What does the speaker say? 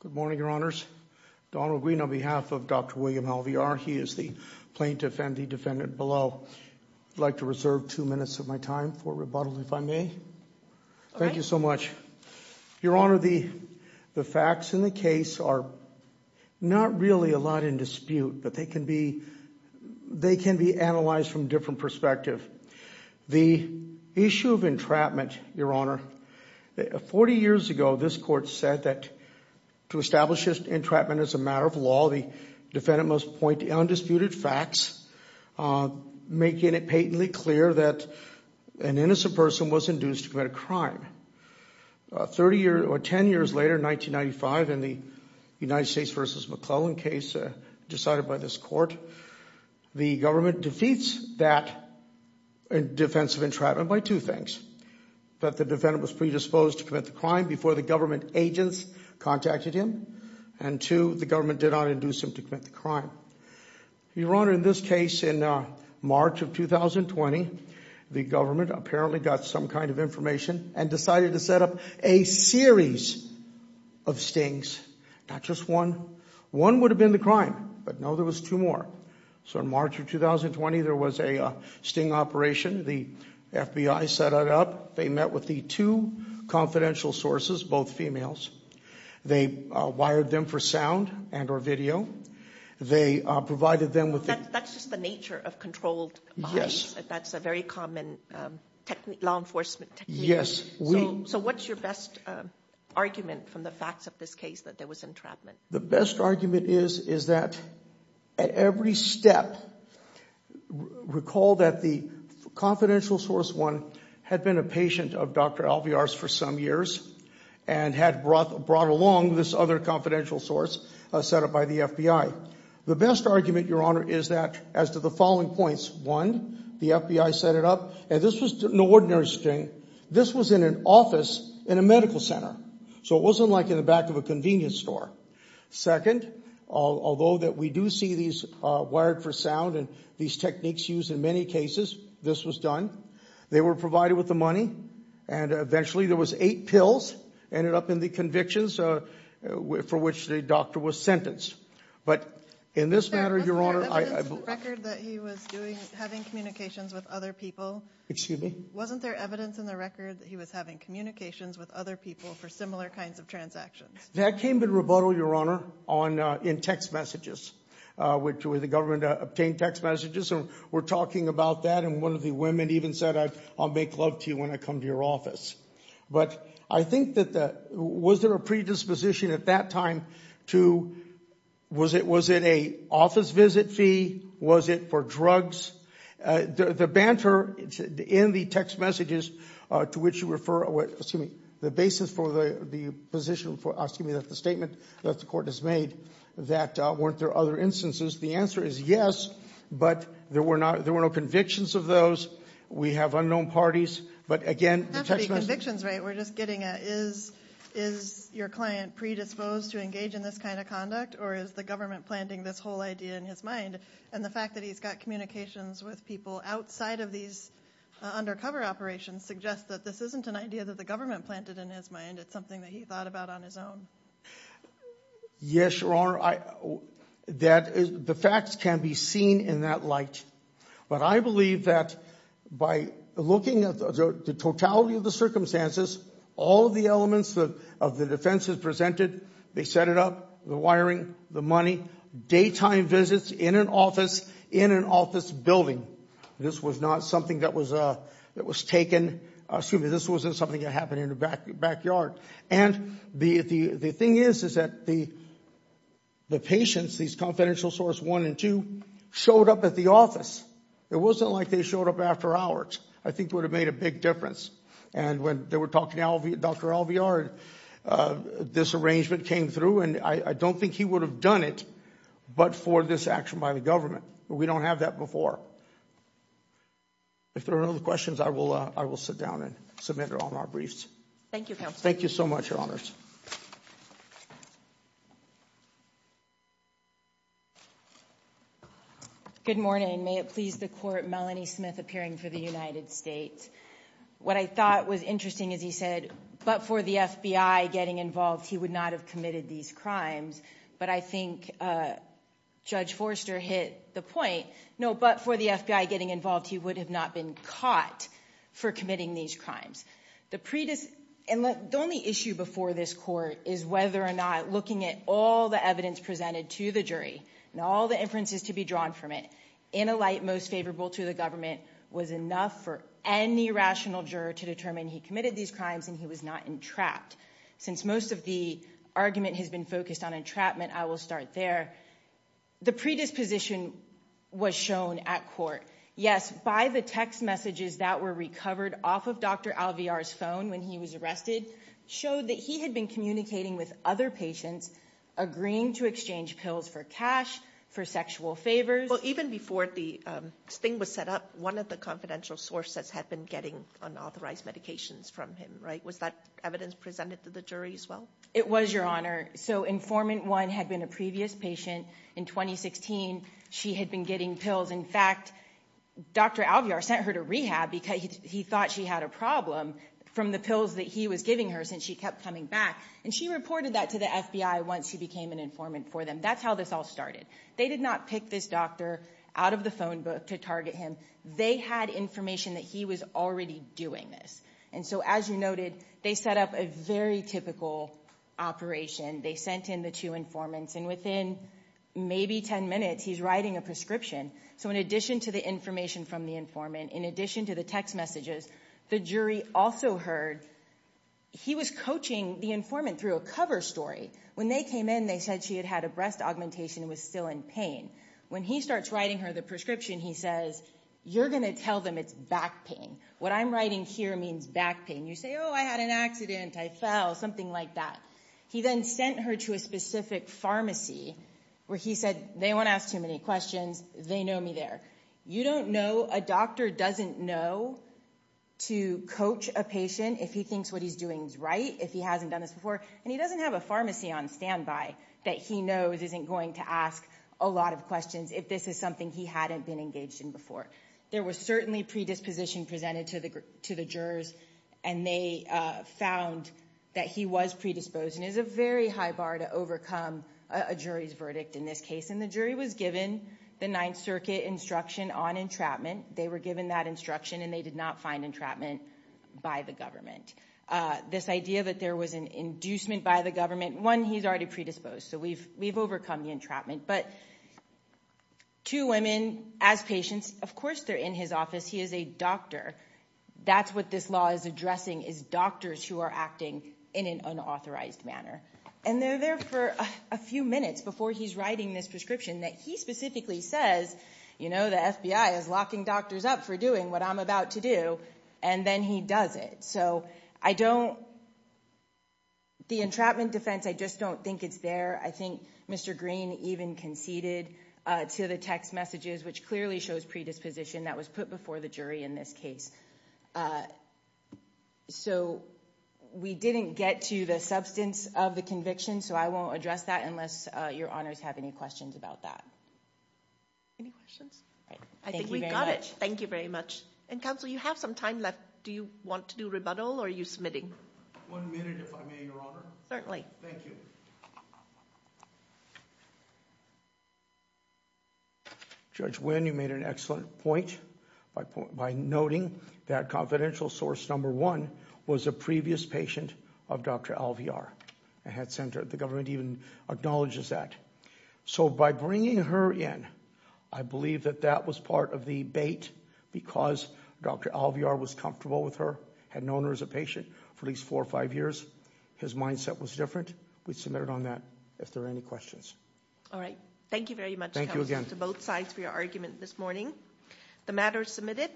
Good morning, Your Honors. Donald Green on behalf of Dr. William Alvear. He is the plaintiff and the defendant below. I'd like to reserve two minutes of my time for rebuttal, if I may. Thank you so much. Your Honor, the facts in the case are not really a lot in dispute, but they can be analyzed from a different perspective. The issue of entrapment, Your Honor, 40 years ago this court said that to establish entrapment as a matter of law, the defendant must point to undisputed facts, making it patently clear that an innocent person was induced to commit a crime. 30 years or 10 years later, 1995, in the United States v. McClellan case decided by this court, the government defeats that defense of entrapment by two things. That the defendant was predisposed to commit the crime before the government agents contacted him, and two, the government did not induce him to commit the crime. Your Honor, in this case in March of 2020, the government apparently got some kind of information and decided to set up a series of stings, not just one. One would have been the crime, but no, there was two more. So in March of 2020, there was a sting operation. The FBI set it up. They met with the two confidential sources, both females. They wired them for sound and or video. They provided them with... That's just the nature of controlled... Yes. That's a very common law enforcement technique. Yes, we... So what's your best argument from the facts of this case that there was entrapment? The best argument is that at every step, recall that the confidential source one had been a patient of Dr. Alviar's for some years and had brought along this other confidential source set up by the FBI. The best argument, Your Honor, is that as to the following points, one, the FBI set it up, and this was an ordinary sting. This was in an office in a medical center. So it wasn't like in the back of a convenience store. Second, although that we do see these wired for sound and these techniques used in many cases, this was done. They were provided with the money, and eventually there was eight pills ended up in the convictions for which the doctor was sentenced. But in this matter, Your Honor... Wasn't there evidence in the record that he was having communications with other people? That came in rebuttal, Your Honor, in text messages, which the government obtained text messages. And we're talking about that, and one of the women even said, I'll make love to you when I come to your office. But I think that the... Was there a predisposition at that time to... Was it a office visit fee? Was it for drugs? The banter in the text messages to which you refer, excuse me, the basis for the position, excuse me, that the statement that the court has made, that weren't there other instances? The answer is yes, but there were no convictions of those. We have unknown parties, but again... It doesn't have to be convictions, right? We're just getting at is your client predisposed to engage in this kind of conduct, or is the government planting this whole idea in his mind? And the fact that he's got communications with people outside of these undercover operations suggests that this isn't an idea that the government planted in his mind. It's something that he thought about on his own. Yes, Your Honor. The facts can be seen in that light. But I believe that by looking at the totality of the circumstances, all of the elements of the defenses presented, they set it up, the wiring, the money, daytime visits in an office, in an office building. This was not something that was taken, excuse me, this wasn't something that happened in the backyard. And the thing is that the patients, these confidential source one and two, showed up at the office. It wasn't like they showed up after hours. I think it would have made a big difference. And when they were talking to Dr. Alvear, this arrangement came through, and I don't think he would have done it but for this action by the government. We don't have that before. If there are no other questions, I will sit down and submit it on our briefs. Thank you, Counselor. Thank you so much, Your Honors. Good morning. May it please the Court, Melanie Smith appearing for the United States. What I thought was interesting, as he said, but for the FBI getting involved, he would not have committed these crimes. But I think Judge Forster hit the point, no, but for the FBI getting involved, he would have not been caught for committing these crimes. The only issue before this Court is whether or not looking at all the evidence presented to the jury and all the inferences to be drawn from it, in a light most favorable to the government, was enough for any rational juror to determine he committed these crimes and he was not entrapped. Since most of the argument has been focused on entrapment, I will start there. The predisposition was shown at court. Yes, by the text messages that were recovered off of Dr. Alviar's phone when he was arrested showed that he had been communicating with other patients, agreeing to exchange pills for cash, for sexual favors. Well, even before this thing was set up, one of the confidential sources had been getting unauthorized medications from him, right? Was that evidence presented to the jury as well? It was, Your Honor. So informant one had been a previous patient. In 2016, she had been getting pills. In fact, Dr. Alviar sent her to rehab because he thought she had a problem from the pills that he was giving her since she kept coming back. And she reported that to the FBI once she became an informant for them. That's how this all started. They did not pick this doctor out of the phone book to target him. They had information that he was already doing this. And so as you noted, they set up a very typical operation. They sent in the two informants, and within maybe 10 minutes, he's writing a prescription. So in addition to the information from the informant, in addition to the text messages, the jury also heard he was coaching the informant through a cover story. When they came in, they said she had had a breast augmentation and was still in pain. When he starts writing her the prescription, he says, you're going to tell them it's back pain. What I'm writing here means back pain. You say, oh, I had an accident, I fell, something like that. He then sent her to a specific pharmacy where he said, they won't ask too many questions, they know me there. You don't know, a doctor doesn't know to coach a patient if he thinks what he's doing is right, if he hasn't done this before, and he doesn't have a pharmacy on standby that he knows isn't going to ask a lot of questions if this is something he hadn't been engaged in before. There was certainly predisposition presented to the jurors, and they found that he was predisposed, and it's a very high bar to overcome a jury's verdict in this case, and the jury was given the Ninth Circuit instruction on entrapment. They were given that instruction, and they did not find entrapment by the government. This idea that there was an inducement by the government, one, he's already predisposed, so we've overcome the entrapment, but two women, as patients, of course they're in his office. He is a doctor. That's what this law is addressing is doctors who are acting in an unauthorized manner, and they're there for a few minutes before he's writing this prescription that he specifically says, you know, the FBI is locking doctors up for doing what I'm about to do, and then he does it. So I don't, the entrapment defense, I just don't think it's there. I think Mr. Green even conceded to the text messages, which clearly shows predisposition that was put before the jury in this case. So we didn't get to the substance of the conviction, so I won't address that unless your honors have any questions about that. Any questions? I think we've got it. Thank you very much. And counsel, you have some time left. Do you want to do rebuttal, or are you submitting? One minute, if I may, your honor. Certainly. Thank you. Judge Wynn, you made an excellent point by noting that confidential source number one was a previous patient of Dr. Alvear, a head center. The government even acknowledges that. So by bringing her in, I believe that that was part of the bait because Dr. Alvear was comfortable with her, had known her as a patient for at least four or five years. His mindset was different. We submitted on that. If there are any questions. All right. Thank you very much, counsel, to both sides for your argument this morning. The matter is submitted.